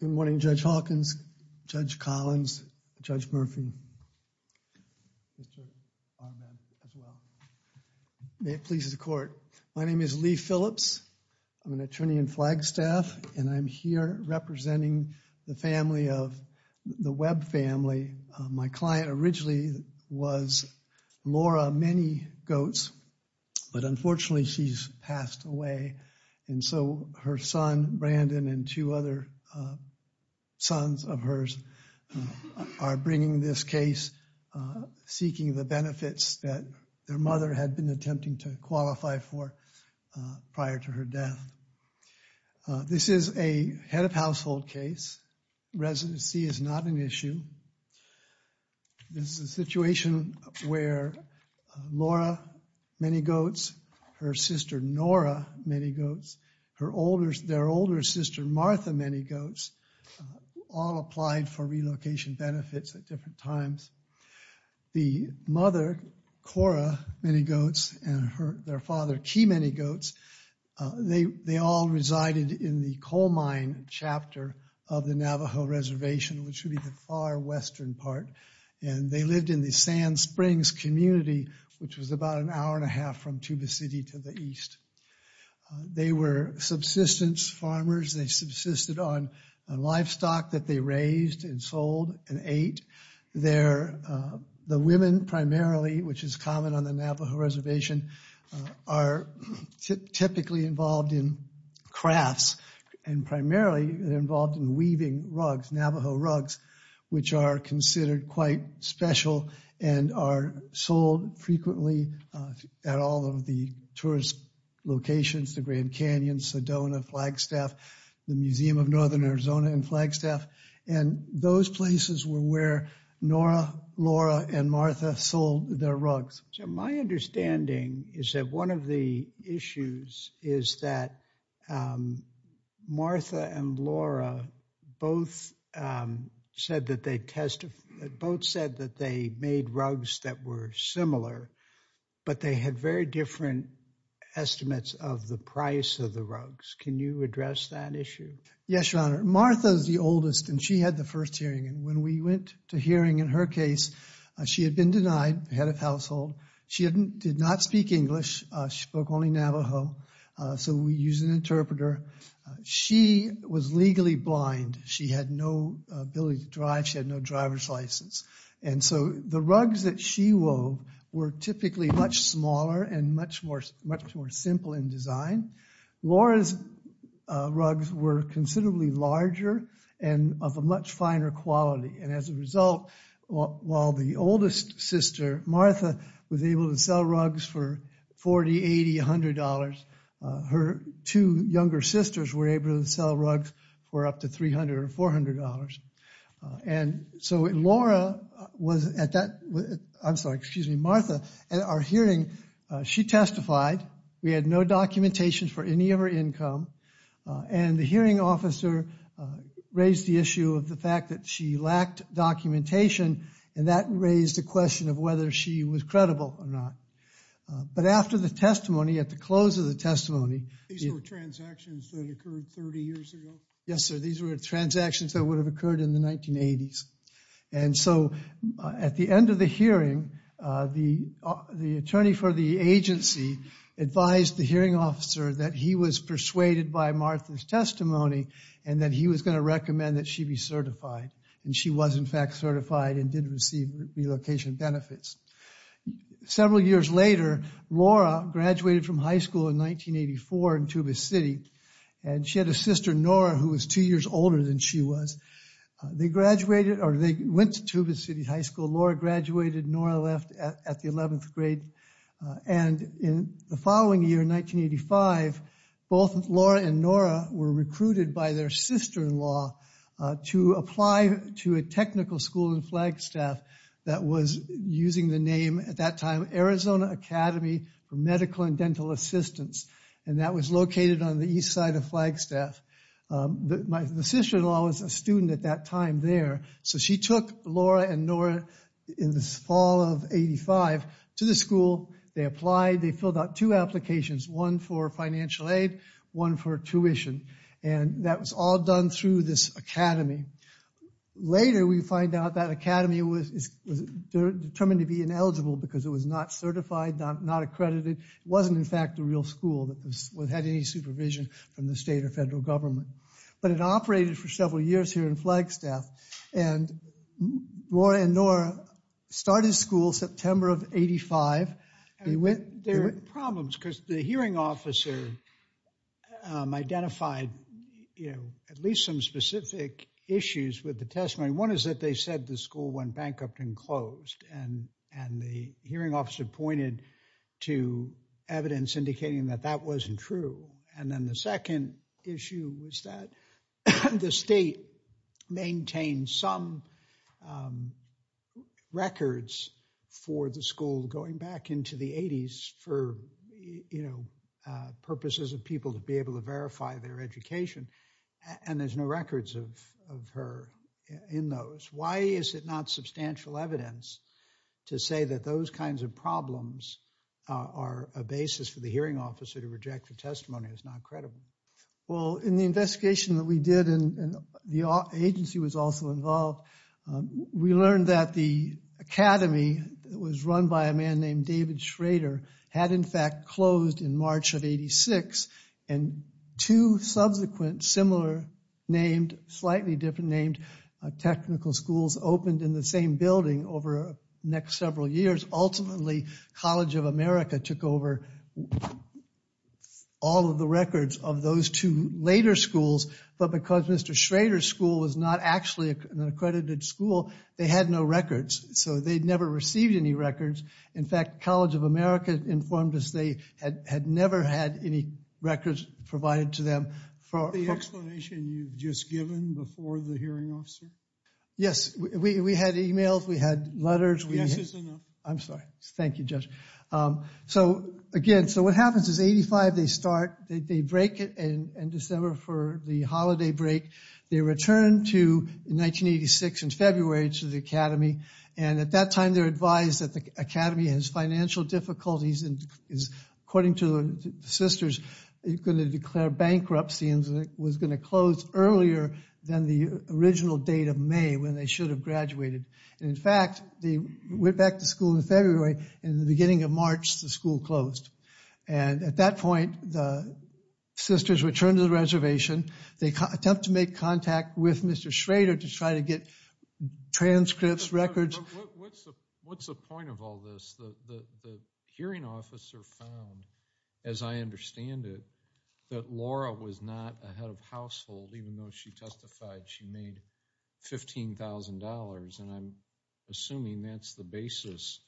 Good morning, Judge Hawkins, Judge Collins, Judge Murphy. May it please the court. My name is Lee Phillips. I'm an attorney in Flagstaff, and I'm here representing the family of the Webb family. My client originally was Laura Many Goats, but unfortunately, she's passed away. And so her son, Brandon, and two other sons of hers are bringing this case, seeking the benefits that their mother had been attempting to qualify for prior to her death. This is a head of household case. Residency is not an issue. This is a situation where Laura Many Goats, her sister, Nora Many Goats, their older sister, Martha Many Goats, all applied for relocation benefits at different times. The mother, Cora Many Goats, and their father, Key Many Goats, they all resided in the coal mine chapter of the Navajo Reservation, which would be the far western part, and they lived in the Sand Springs community, which was about an hour and a half from Tuba City to the east. They were subsistence farmers. They subsisted on livestock that they raised and sold and ate. The women primarily, which is common on the Navajo Reservation, are typically involved in crafts and primarily involved in weaving rugs, Navajo rugs, which are considered quite special and are sold frequently at all of the tourist locations, the Grand Canyon, Sedona, Flagstaff, the Museum of Northern Arizona in Flagstaff. And those places were where Nora, Laura, and Martha sold their rugs. So my understanding is that one of the issues is that Martha and Laura both said that they made rugs that were similar, but they had very different estimates of the price of the rugs. Can you address that issue? Yes, Your Honor. Martha is the oldest, and she had the first hearing. And when we went to hearing in her case, she had been denied, head of household. She did not speak English. She spoke only Navajo. So we used an interpreter. She was legally blind. She had no ability to drive. She had no driver's license. And so the rugs that she wove were typically much smaller and much more simple in design. Laura's rugs were considerably larger and of a much finer quality. And as a result, while the oldest sister, Martha, was able to sell rugs for $40, $80, $100, her two younger sisters were able to sell rugs for up to $300 or $400. And so Laura was at that, I'm sorry, excuse me, Martha, at our hearing. She testified. We had no documentation for any of her income. And the hearing officer raised the issue of the fact that she lacked documentation, and that raised the question of whether she was credible or not. But after the testimony, at the close of the testimony... These were transactions that occurred 30 years ago? Yes, sir. These were transactions that would have occurred in the 1980s. And so at the end of the hearing, the attorney for the agency advised the hearing officer that he was persuaded by Martha's testimony, and that he was going to recommend that she be certified. And she was, in fact, certified and did receive relocation benefits. Several years later, Laura graduated from high school in 1984 in Tuba City. And she had a sister, Nora, who was two years older than she was. They graduated, or they went to Tuba City High School. Laura graduated. Nora left at the 11th grade. And in the following year, 1985, both Laura and Nora were recruited by their sister-in-law to apply to a technical school in Flagstaff that was using the name at that time Arizona Academy for Medical and Dental Assistance. And that was located on the east side of Flagstaff. The sister-in-law was a student at that time there. So she took Laura and Nora in the fall of 1985 to the school. They applied. They filled out two applications, one for financial aid, one for tuition. And that was all done through this academy. Later, we find out that academy was determined to be ineligible because it was not certified, not accredited. It wasn't, in fact, a real school that had any supervision from the state or federal government. But it operated for several years here in Flagstaff. And Laura and Nora started school September of 1985. There were problems because the hearing officer identified at least some specific issues with the testimony. One is that they said the school went bankrupt and closed. And the hearing officer pointed to evidence indicating that that wasn't true. And then the second issue was that the state maintained some records for the school going back into the 80s for, you know, purposes of people to be able to verify their education. And there's no records of her in those. Why is it not substantial evidence to say that those kinds of problems are a basis for the hearing officer to reject the testimony? It's not credible. Well, in the investigation that we did, and the agency was also involved, we learned that the academy that was run by a man named David Schrader had, in fact, closed in March of 86. And two subsequent similar named, slightly different named technical schools opened in the same building over the next several years. Ultimately, College of America took over all of the records of those two later schools. But because Mr. Schrader's school was not actually an accredited school, they had no records. So they'd never received any records. In fact, College of America informed us they had never had any records provided to them. The explanation you've just given before the hearing officer? Yes, we had emails, we had letters. Yes is enough. I'm sorry. Thank you, Judge. So, again, so what happens is 85, they start, they break it in December for the holiday break. They return to 1986 in February to the academy. And at that time, they're advised that the academy has financial difficulties and is, according to the sisters, going to declare bankruptcy and was going to close earlier than the original date of May when they should have graduated. And, in fact, they went back to school in February. In the beginning of March, the school closed. And at that point, the sisters returned to the reservation. They attempt to make contact with Mr. Schrader to try to get transcripts, records. What's the point of all this? The hearing officer found, as I understand it, that Laura was not a head of household, even though she testified she made $15,000. And I'm assuming that's the basis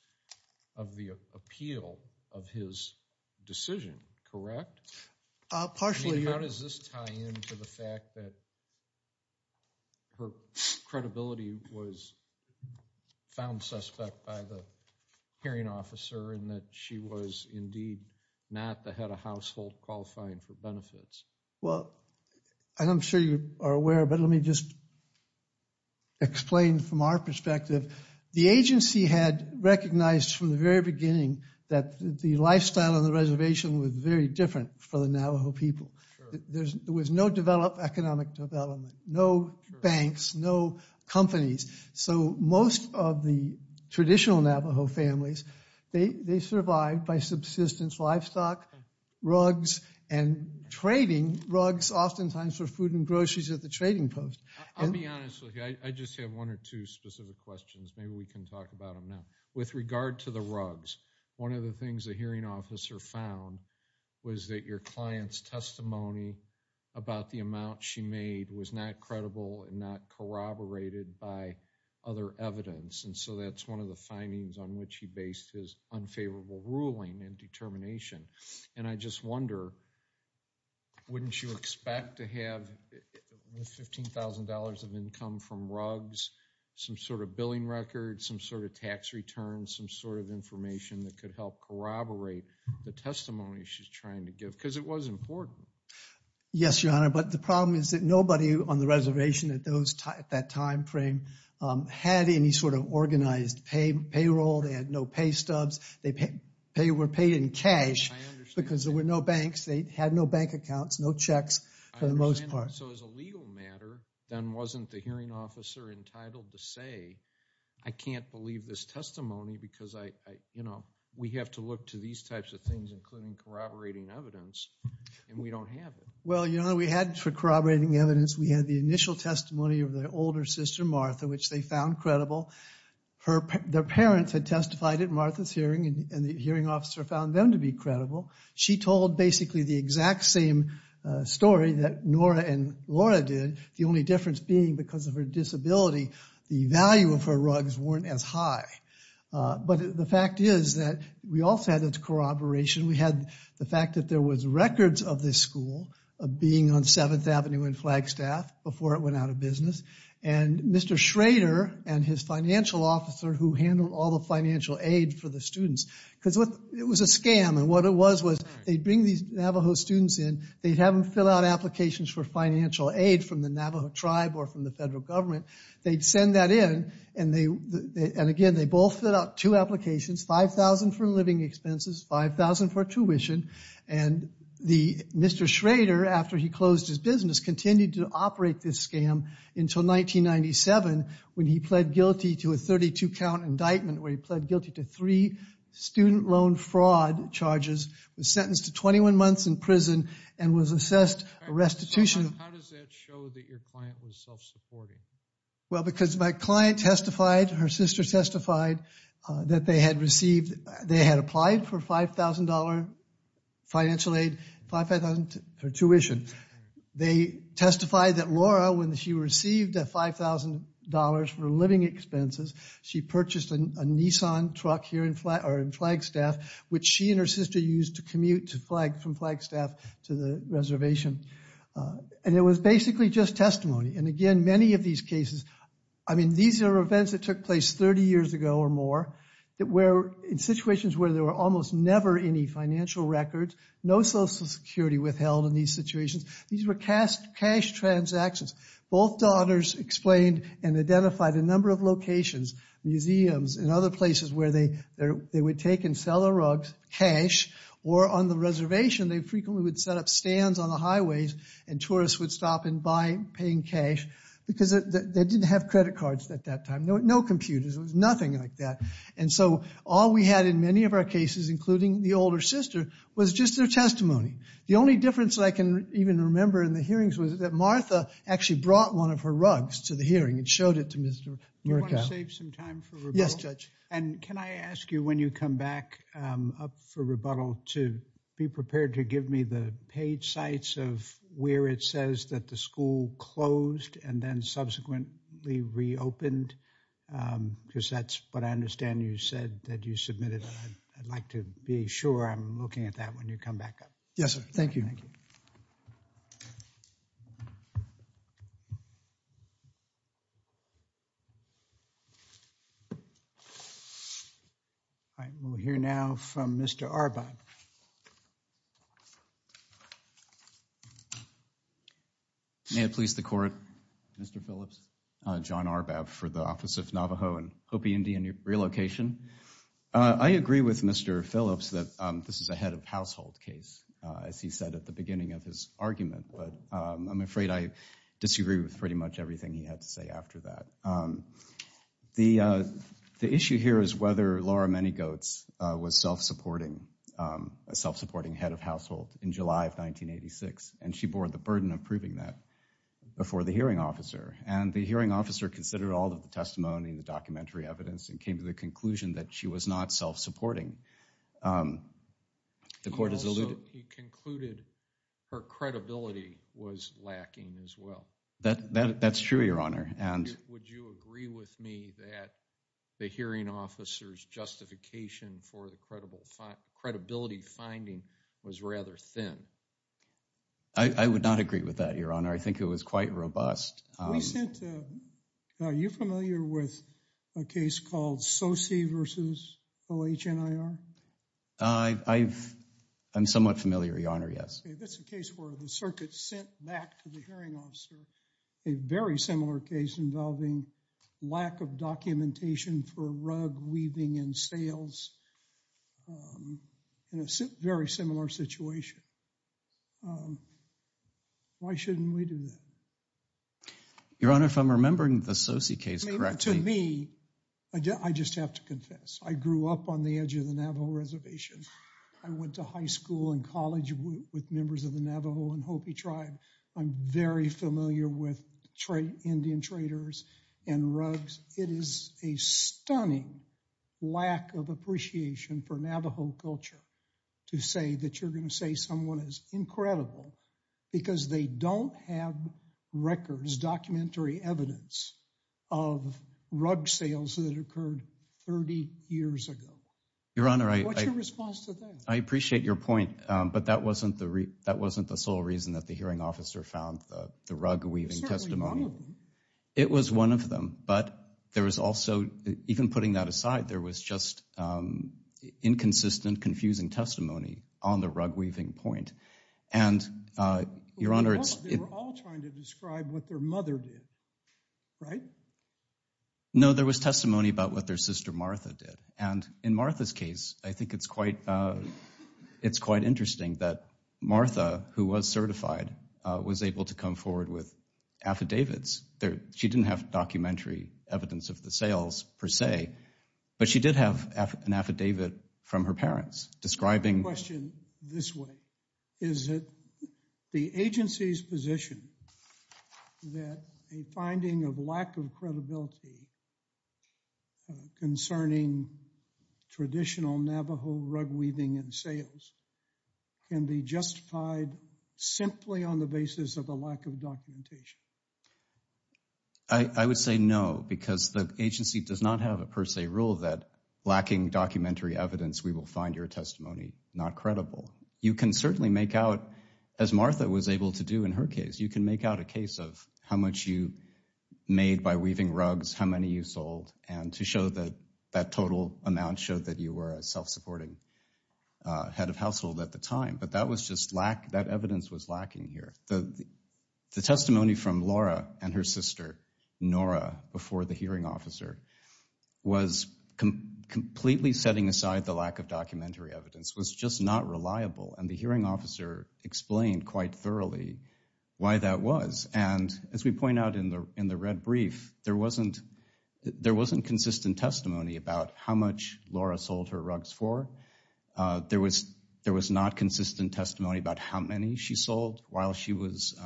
of the appeal of his decision, correct? Partially. How does this tie in to the fact that her credibility was found suspect by the hearing officer and that she was indeed not the head of household qualifying for benefits? Well, I'm sure you are aware, but let me just explain from our perspective. The agency had recognized from the very beginning that the lifestyle of the reservation was very different for the Navajo people. There was no economic development, no banks, no companies. So most of the traditional Navajo families, they survived by subsistence livestock, rugs, and trading rugs oftentimes for food and groceries at the trading post. I'll be honest with you. I just have one or two specific questions. Maybe we can talk about them now. With regard to the rugs, one of the things the hearing officer found was that your client's testimony about the amount she made was not credible and not corroborated by other evidence. And so that's one of the findings on which he based his unfavorable ruling and determination. And I just wonder, wouldn't you expect to have $15,000 of income from rugs, some sort of billing record, some sort of tax return, some sort of information that could help corroborate the testimony she's trying to give? Because it was important. Yes, Your Honor, but the problem is that nobody on the reservation at that time frame had any sort of organized payroll. They had no pay stubs. They were paid in cash because there were no banks. They had no bank accounts, no checks for the most part. So as a legal matter, then wasn't the hearing officer entitled to say, I can't believe this testimony because we have to look to these types of things, including corroborating evidence, and we don't have it? Well, Your Honor, we had corroborating evidence. We had the initial testimony of the older sister, Martha, which they found credible. Their parents had testified at Martha's hearing, and the hearing officer found them to be credible. She told basically the exact same story that Nora and Laura did, the only difference being because of her disability, the value of her rugs weren't as high. But the fact is that we also had this corroboration. We had the fact that there was records of this school being on 7th Avenue and Flagstaff before it went out of business. And Mr. Schrader and his financial officer who handled all the financial aid for the students, because it was a scam, and what it was was they'd bring these Navajo students in. They'd have them fill out applications for financial aid from the Navajo tribe or from the federal government. They'd send that in, and again, they both filled out two applications, $5,000 for living expenses, $5,000 for tuition. And Mr. Schrader, after he closed his business, continued to operate this scam until 1997 when he pled guilty to a 32-count indictment where he pled guilty to three student loan fraud charges, was sentenced to 21 months in prison, and was assessed a restitution. How does that show that your client was self-supporting? Well, because my client testified, her sister testified, that they had received, they had applied for $5,000 financial aid, $5,000 for tuition. They testified that Laura, when she received that $5,000 for living expenses, she purchased a Nissan truck here in Flagstaff, which she and her sister used to commute from Flagstaff to the reservation. And it was basically just testimony. And again, many of these cases, I mean, these are events that took place 30 years ago or more in situations where there were almost never any financial records, no Social Security withheld in these situations. These were cash transactions. Both daughters explained and identified a number of locations, museums, and other places where they would take and sell the rugs, cash, or on the reservation they frequently would set up stands on the highways and tourists would stop and buy paying cash because they didn't have credit cards at that time, no computers, it was nothing like that. And so all we had in many of our cases, including the older sister, was just their testimony. The only difference that I can even remember in the hearings was that Martha actually brought one of her rugs to the hearing and showed it to Mr. Murkow. Do you want to save some time for rebuttal? Yes, Judge. And can I ask you when you come back up for rebuttal to be prepared to give me the page sites of where it says that the school closed and then subsequently reopened? Because that's what I understand you said that you submitted. I'd like to be sure I'm looking at that when you come back up. Yes, sir. Thank you. Thank you. We'll hear now from Mr. Arbab. May it please the Court, Mr. Phillips, John Arbab for the Office of Navajo and Hopi Indian Relocation. I agree with Mr. Phillips that this is a head of household case, as he said at the beginning of his argument, but I'm afraid I disagree with pretty much everything he had to say after that. The issue here is whether Laura Manygoats was self-supporting, a self-supporting head of household, in July of 1986, and she bore the burden of proving that before the hearing officer. And the hearing officer considered all of the testimony and the documentary evidence and came to the conclusion that she was not self-supporting. He concluded her credibility was lacking as well. That's true, Your Honor. Would you agree with me that the hearing officer's justification for the credibility finding was rather thin? I would not agree with that, Your Honor. I think it was quite robust. Are you familiar with a case called Soce v. OHNIR? I'm somewhat familiar, Your Honor, yes. That's a case where the circuit sent back to the hearing officer a very similar case involving lack of documentation for rug weaving and sails in a very similar situation. Why shouldn't we do that? Your Honor, if I'm remembering the Soce case correctly— To me, I just have to confess, I grew up on the edge of the Navajo Reservation. I went to high school and college with members of the Navajo and Hopi tribe. I'm very familiar with Indian traders and rugs. It is a stunning lack of appreciation for Navajo culture to say that you're going to say someone is incredible because they don't have records, documentary evidence, of rug sails that occurred 30 years ago. What's your response to that? I appreciate your point, but that wasn't the sole reason that the hearing officer found the rug weaving testimony. It was certainly one of them. It was one of them, but even putting that aside, there was just inconsistent, confusing testimony on the rug weaving point. They were all trying to describe what their mother did, right? No, there was testimony about what their sister Martha did. In Martha's case, I think it's quite interesting that Martha, who was certified, was able to come forward with affidavits. She didn't have documentary evidence of the sails per se, but she did have an affidavit from her parents describing— traditional Navajo rug weaving and sails can be justified simply on the basis of a lack of documentation. I would say no, because the agency does not have a per se rule that lacking documentary evidence, we will find your testimony not credible. You can certainly make out, as Martha was able to do in her case, you can make out a case of how much you made by weaving rugs, which was how many you sold, and to show that that total amount showed that you were a self-supporting head of household at the time. But that evidence was lacking here. The testimony from Laura and her sister, Nora, before the hearing officer was completely setting aside the lack of documentary evidence. It was just not reliable, and the hearing officer explained quite thoroughly why that was. As we point out in the red brief, there wasn't consistent testimony about how much Laura sold her rugs for. There was not consistent testimony about how many she sold while she was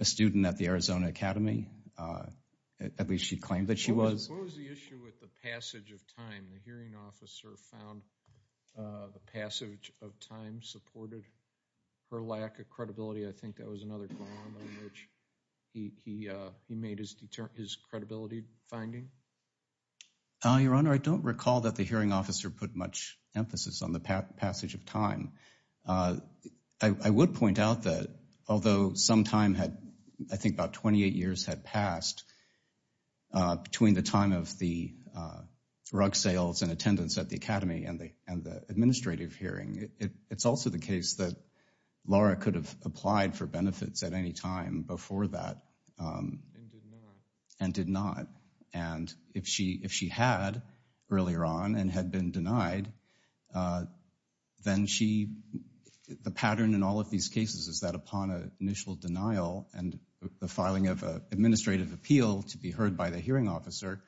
a student at the Arizona Academy. At least she claimed that she was. What was the issue with the passage of time? The hearing officer found the passage of time supported her lack of credibility. I think that was another ground on which he made his credibility finding. Your Honor, I don't recall that the hearing officer put much emphasis on the passage of time. I would point out that although some time had, I think about 28 years had passed, between the time of the rug sales and attendance at the Academy and the administrative hearing, it's also the case that Laura could have applied for benefits at any time before that and did not. And if she had earlier on and had been denied, then the pattern in all of these cases is that upon initial denial and the filing of an administrative appeal to be heard by the hearing officer,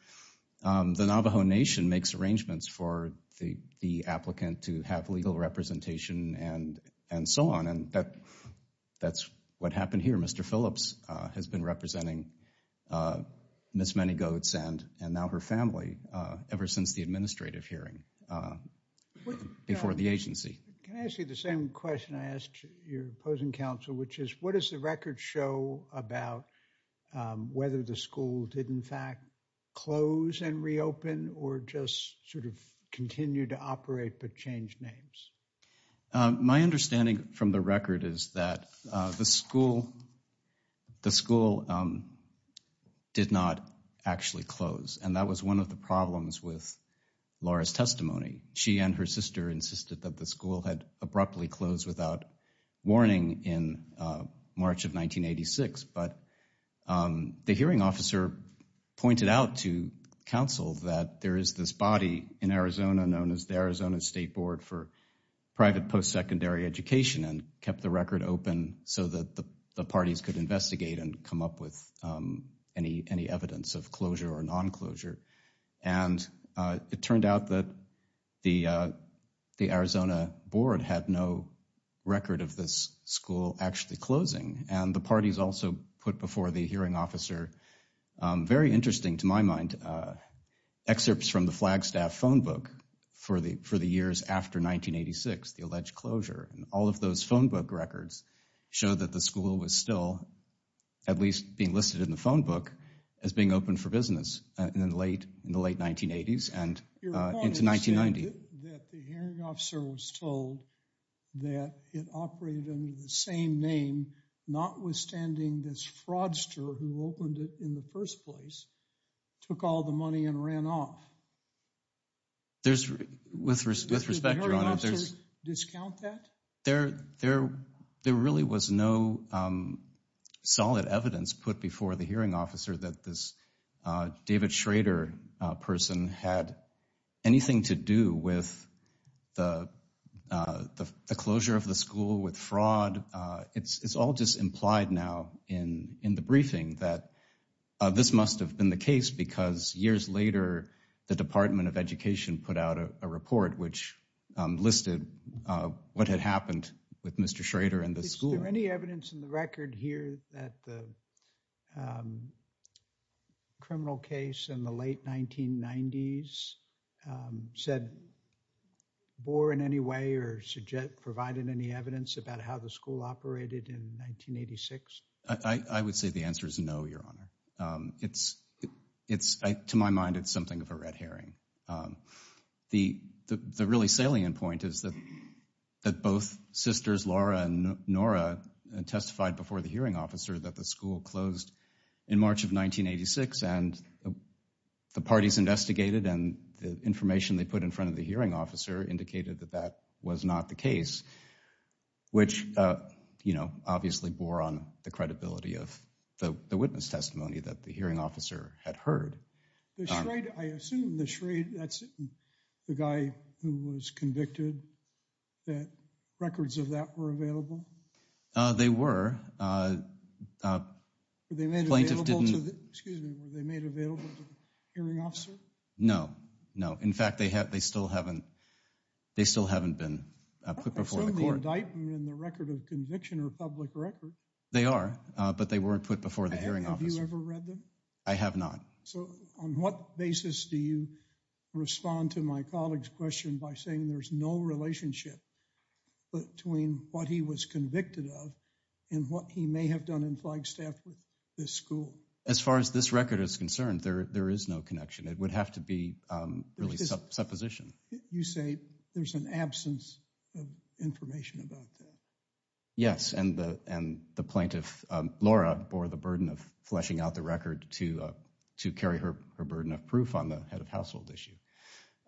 the Navajo Nation makes arrangements for the applicant to have legal representation and so on. And that's what happened here. Mr. Phillips has been representing Ms. Many Goats and now her family ever since the administrative hearing before the agency. Can I ask you the same question I asked your opposing counsel, which is what does the record show about whether the school did in fact close and reopen or just sort of continue to operate but change names? My understanding from the record is that the school, the school did not actually close. And that was one of the problems with Laura's testimony. She and her sister insisted that the school had abruptly closed without warning in March of 1986. But the hearing officer pointed out to counsel that there is this body in Arizona known as the Arizona State Board for Private Post-Secondary Education and kept the record open so that the parties could investigate and come up with any evidence of closure or non-closure. And it turned out that the Arizona Board had no record of this school actually closing. And the parties also put before the hearing officer, very interesting to my mind, excerpts from the Flagstaff phone book for the years after 1986, the alleged closure. And all of those phone book records show that the school was still at least being listed in the phone book as being open for business in the late 1980s and into 1990. Your opponent said that the hearing officer was told that it operated under the same name, notwithstanding this fraudster who opened it in the first place, took all the money and ran off. With respect, Your Honor. Did the hearing officer discount that? There really was no solid evidence put before the hearing officer that this David Schrader person had anything to do with the closure of the school with fraud. It's all just implied now in the briefing that this must have been the case because years later, the Department of Education put out a report which listed what had happened with Mr. Schrader and the school. Is there any evidence in the record here that the criminal case in the late 1990s said, bore in any way or provided any evidence about how the school operated in 1986? I would say the answer is no, Your Honor. It's, to my mind, it's something of a red herring. The really salient point is that both sisters, Laura and Nora, testified before the hearing officer that the school closed in March of 1986, and the parties investigated and the information they put in front of the hearing officer indicated that that was not the case, which obviously bore on the credibility of the witness testimony that the hearing officer had heard. The Schrader, I assume the Schrader, that's the guy who was convicted, that records of that were available? They were. Were they made available to the hearing officer? No, no. In fact, they still haven't been put before the court. I thought they showed the indictment in the record of conviction or public record. They are, but they weren't put before the hearing officer. Have you ever read them? I have not. So on what basis do you respond to my colleague's question by saying there's no relationship between what he was convicted of and what he may have done in Flagstaff with this school? As far as this record is concerned, there is no connection. It would have to be really supposition. You say there's an absence of information about that. Yes, and the plaintiff, Laura, bore the burden of fleshing out the record to carry her burden of proof on the head of household issue.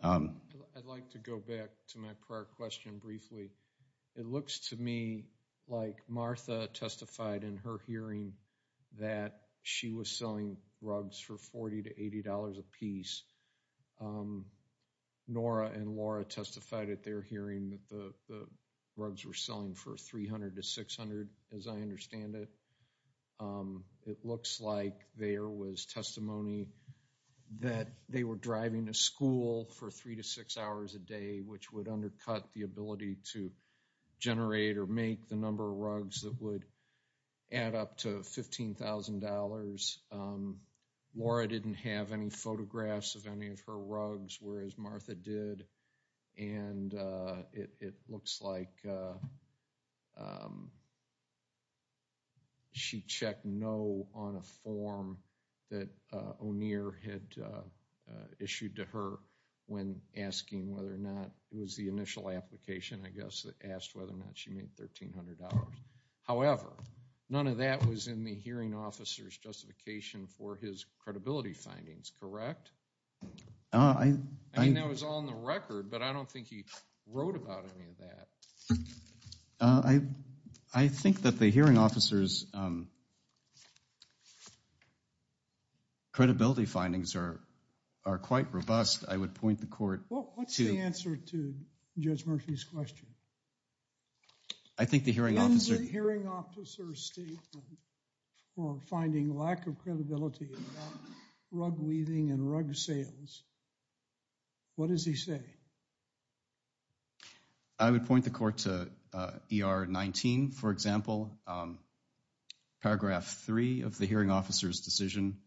I'd like to go back to my prior question briefly. It looks to me like Martha testified in her hearing that she was selling rugs for $40 to $80 apiece. Nora and Laura testified at their hearing that the rugs were selling for $300 to $600, as I understand it. It looks like there was testimony that they were driving to school for three to six hours a day, which would undercut the ability to generate or make the number of rugs that would add up to $15,000. Laura didn't have any photographs of any of her rugs, whereas Martha did, and it looks like she checked no on a form that O'Neill had issued to her when asking whether or not it was the initial application, I guess, that asked whether or not she made $1,300. However, none of that was in the hearing officer's justification for his credibility findings, correct? I mean, that was all in the record, but I don't think he wrote about any of that. I think that the hearing officer's credibility findings are quite robust. I would point the court to— Well, what's the answer to Judge Murphy's question? I think the hearing officer— In the hearing officer's statement for finding lack of credibility about rug weaving and rug sales, what does he say? I would point the court to ER 19, for example, paragraph 3 of the hearing officer's decision.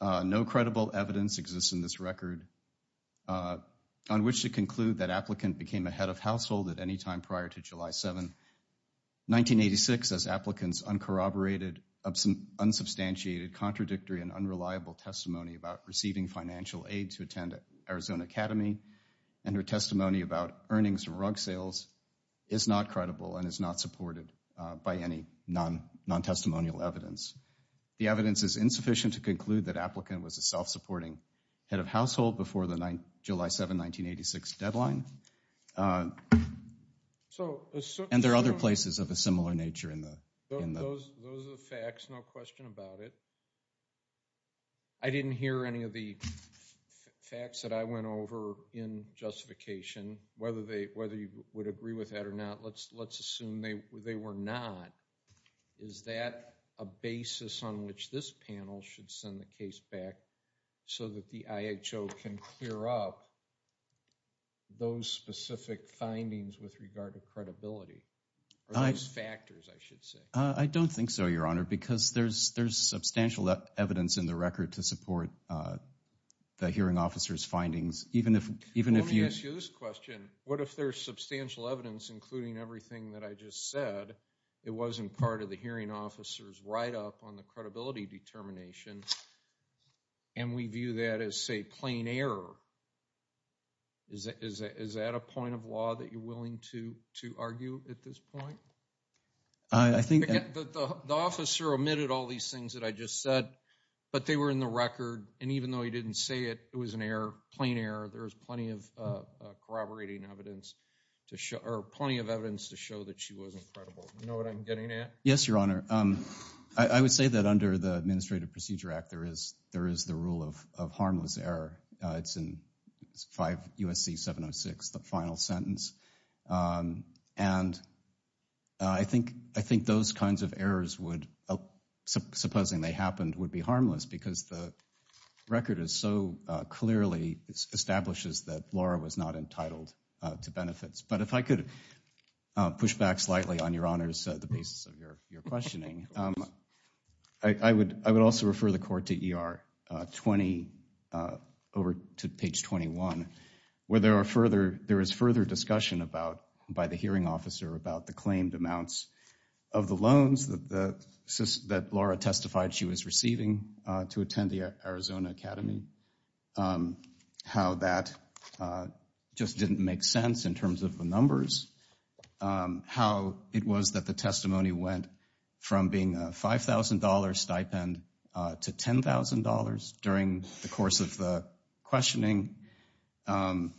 No credible evidence exists in this record on which to conclude that applicant became a head of household at any time prior to July 7, 1986, as applicant's uncorroborated, unsubstantiated, contradictory, and unreliable testimony about receiving financial aid to attend Arizona Academy and her testimony about earnings from rug sales is not credible and is not supported by any non-testimonial evidence. The evidence is insufficient to conclude that applicant was a self-supporting head of household before the July 7, 1986, deadline. And there are other places of a similar nature in the— Those are the facts, no question about it. I didn't hear any of the facts that I went over in justification. Whether you would agree with that or not, let's assume they were not. Is that a basis on which this panel should send the case back so that the IHO can clear up those specific findings with regard to credibility? Or those factors, I should say. I don't think so, Your Honor, because there's substantial evidence in the record to support the hearing officer's findings, even if you— Let me ask you this question. What if there's substantial evidence, including everything that I just said, it wasn't part of the hearing officer's write-up on the credibility determination and we view that as, say, plain error? Is that a point of law that you're willing to argue at this point? I think— The officer omitted all these things that I just said, but they were in the record. And even though he didn't say it was an error, plain error, there's plenty of corroborating evidence to show— or plenty of evidence to show that she wasn't credible. You know what I'm getting at? Yes, Your Honor. I would say that under the Administrative Procedure Act, there is the rule of harmless error. It's in 5 U.S.C. 706, the final sentence. And I think those kinds of errors, supposing they happened, would be harmless, because the record so clearly establishes that Laura was not entitled to benefits. But if I could push back slightly on, Your Honors, the basis of your questioning. Of course. I would also refer the Court to ER 20, over to page 21, where there is further discussion by the hearing officer about the claimed amounts of the loans that Laura testified she was receiving to attend the Arizona Academy, how that just didn't make sense in terms of the numbers, how it was that the testimony went from being a $5,000 stipend to $10,000 during the course of the questioning. And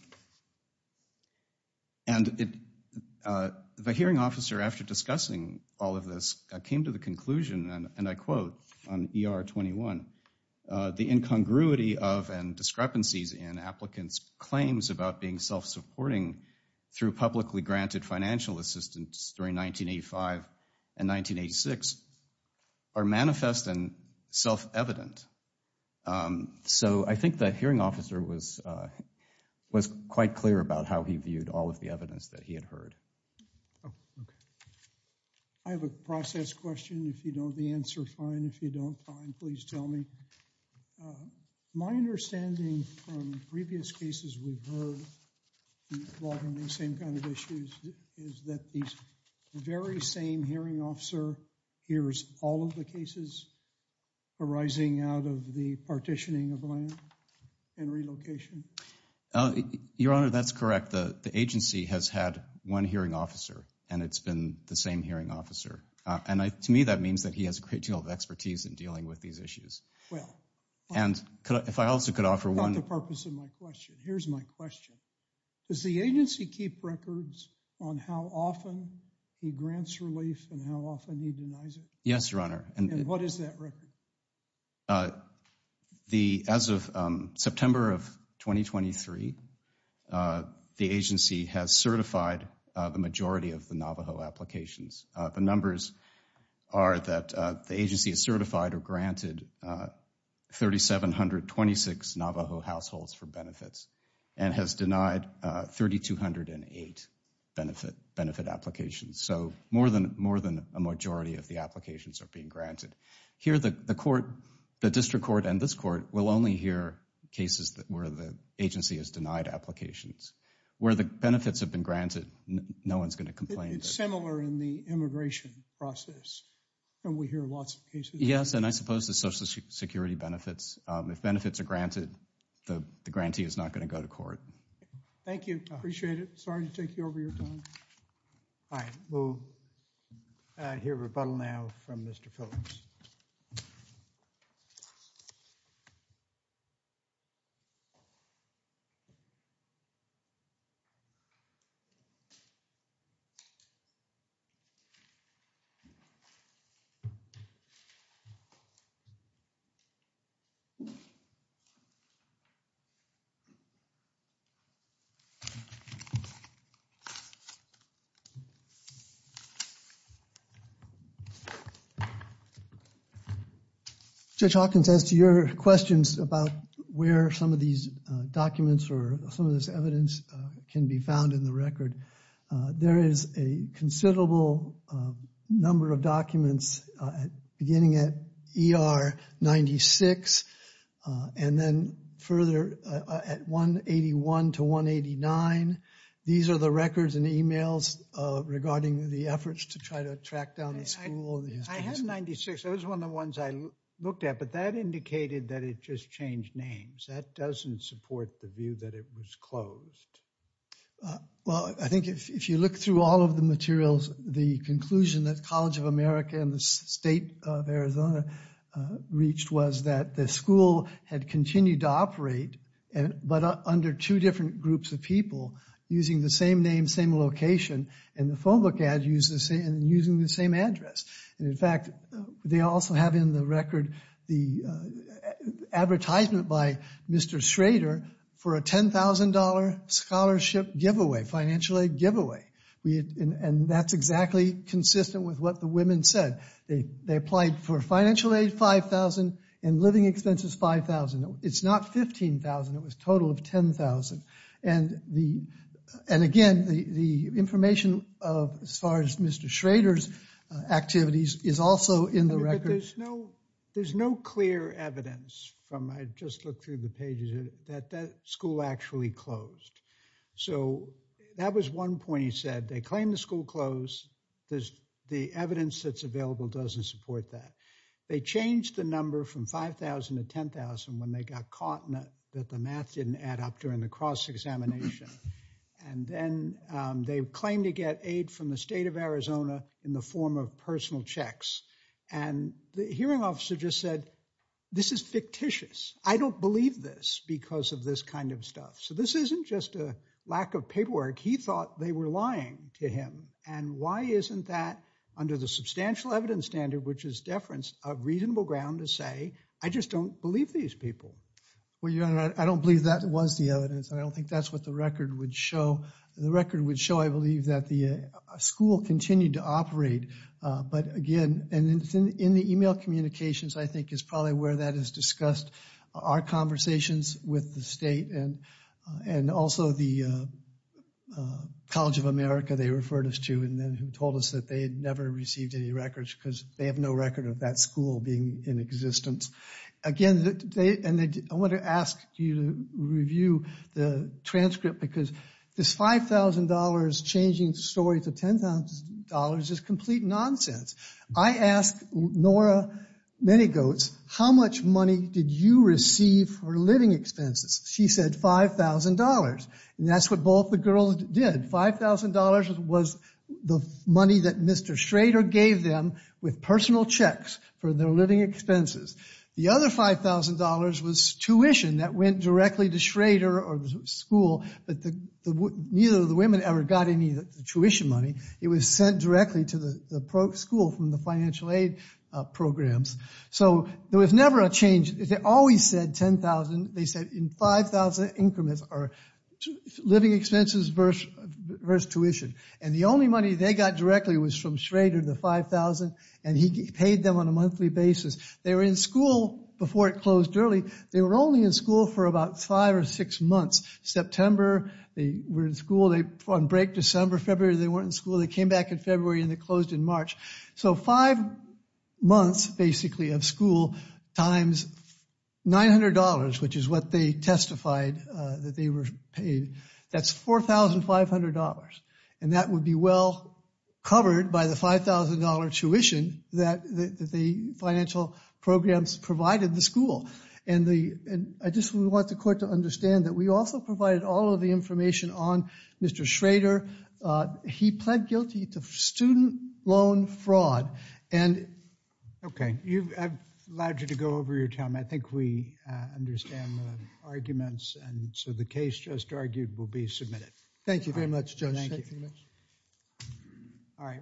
the hearing officer, after discussing all of this, came to the conclusion, and I quote on ER 21, the incongruity of and discrepancies in applicants' claims about being self-supporting through publicly granted financial assistance during 1985 and 1986 are manifest and self-evident. So I think the hearing officer was quite clear about how he viewed all of the evidence that he had heard. Okay. I have a process question. If you know the answer, fine. If you don't, fine. Please tell me. My understanding from previous cases we've heard involving the same kind of issues is that the very same hearing officer hears all of the cases arising out of the partitioning of land and relocation. Your Honor, that's correct. The agency has had one hearing officer, and it's been the same hearing officer. And to me, that means that he has a great deal of expertise in dealing with these issues. And if I also could offer one… Not the purpose of my question. Here's my question. Does the agency keep records on how often he grants relief and how often he denies it? Yes, Your Honor. And what is that record? As of September of 2023, the agency has certified the majority of the Navajo applications. The numbers are that the agency has certified or granted 3,726 Navajo households for benefits and has denied 3,208 benefit applications. So more than a majority of the applications are being granted. Here, the district court and this court will only hear cases where the agency has denied applications. Where the benefits have been granted, no one's going to complain. It's similar in the immigration process, and we hear lots of cases. Yes, and I suppose the Social Security benefits. If benefits are granted, the grantee is not going to go to court. Thank you. I appreciate it. Sorry to take you over your time. All right, we'll hear rebuttal now from Mr. Phillips. Judge Hawkins, as to your questions about where some of these documents or some of this evidence can be found in the record, there is a considerable number of documents beginning at ER 96 and then further at 181 to 189. These are the records and emails regarding the efforts to try to track down the school. I have 96. It was one of the ones I looked at, but that indicated that it just changed names. That doesn't support the view that it was closed. Well, I think if you look through all of the materials, the conclusion that College of America and the State of Arizona reached was that the school had continued to operate, but under two different groups of people using the same name, same location, and the phone book ad using the same address. And, in fact, they also have in the record the advertisement by Mr. Schrader for a $10,000 scholarship giveaway, financial aid giveaway. And that's exactly consistent with what the women said. They applied for financial aid, $5,000, and living expenses, $5,000. It's not $15,000. It was a total of $10,000. And, again, the information as far as Mr. Schrader's activities is also in the record. There's no clear evidence from I just looked through the pages that that school actually closed. So that was one point he said. They claimed the school closed. The evidence that's available doesn't support that. They changed the number from $5,000 to $10,000 when they got caught that the math didn't add up during the cross-examination. And then they claimed to get aid from the State of Arizona in the form of personal checks. And the hearing officer just said, this is fictitious. I don't believe this because of this kind of stuff. So this isn't just a lack of paperwork. He thought they were lying to him. And why isn't that, under the substantial evidence standard, which is deference, a reasonable ground to say, I just don't believe these people? Well, Your Honor, I don't believe that was the evidence. I don't think that's what the record would show. The record would show, I believe, that the school continued to operate. But, again, in the email communications, I think, is probably where that is discussed. Our conversations with the state and also the College of America they referred us to and then told us that they had never received any records because they have no record of that school being in existence. Again, I want to ask you to review the transcript because this $5,000 changing the story to $10,000 is complete nonsense. I asked Nora Manygoats, how much money did you receive for living expenses? She said $5,000. And that's what both the girls did. $5,000 was the money that Mr. Schrader gave them with personal checks for their living expenses. The other $5,000 was tuition that went directly to Schrader or the school, but neither of the women ever got any of the tuition money. It was sent directly to the school from the financial aid programs. So there was never a change. They always said $10,000. They said in $5,000 increments are living expenses versus tuition. And the only money they got directly was from Schrader, the $5,000, and he paid them on a monthly basis. They were in school before it closed early. They were only in school for about five or six months. September they were in school. On break December, February they weren't in school. They came back in February and they closed in March. So five months basically of school times $900, which is what they testified that they were paid, that's $4,500, and that would be well covered by the $5,000 tuition that the financial programs provided the school. I just want the court to understand that we also provided all of the information on Mr. Schrader. He pled guilty to student loan fraud. Okay, I've allowed you to go over your time. I think we understand the arguments, and so the case just argued will be submitted. Thank you very much, Judge.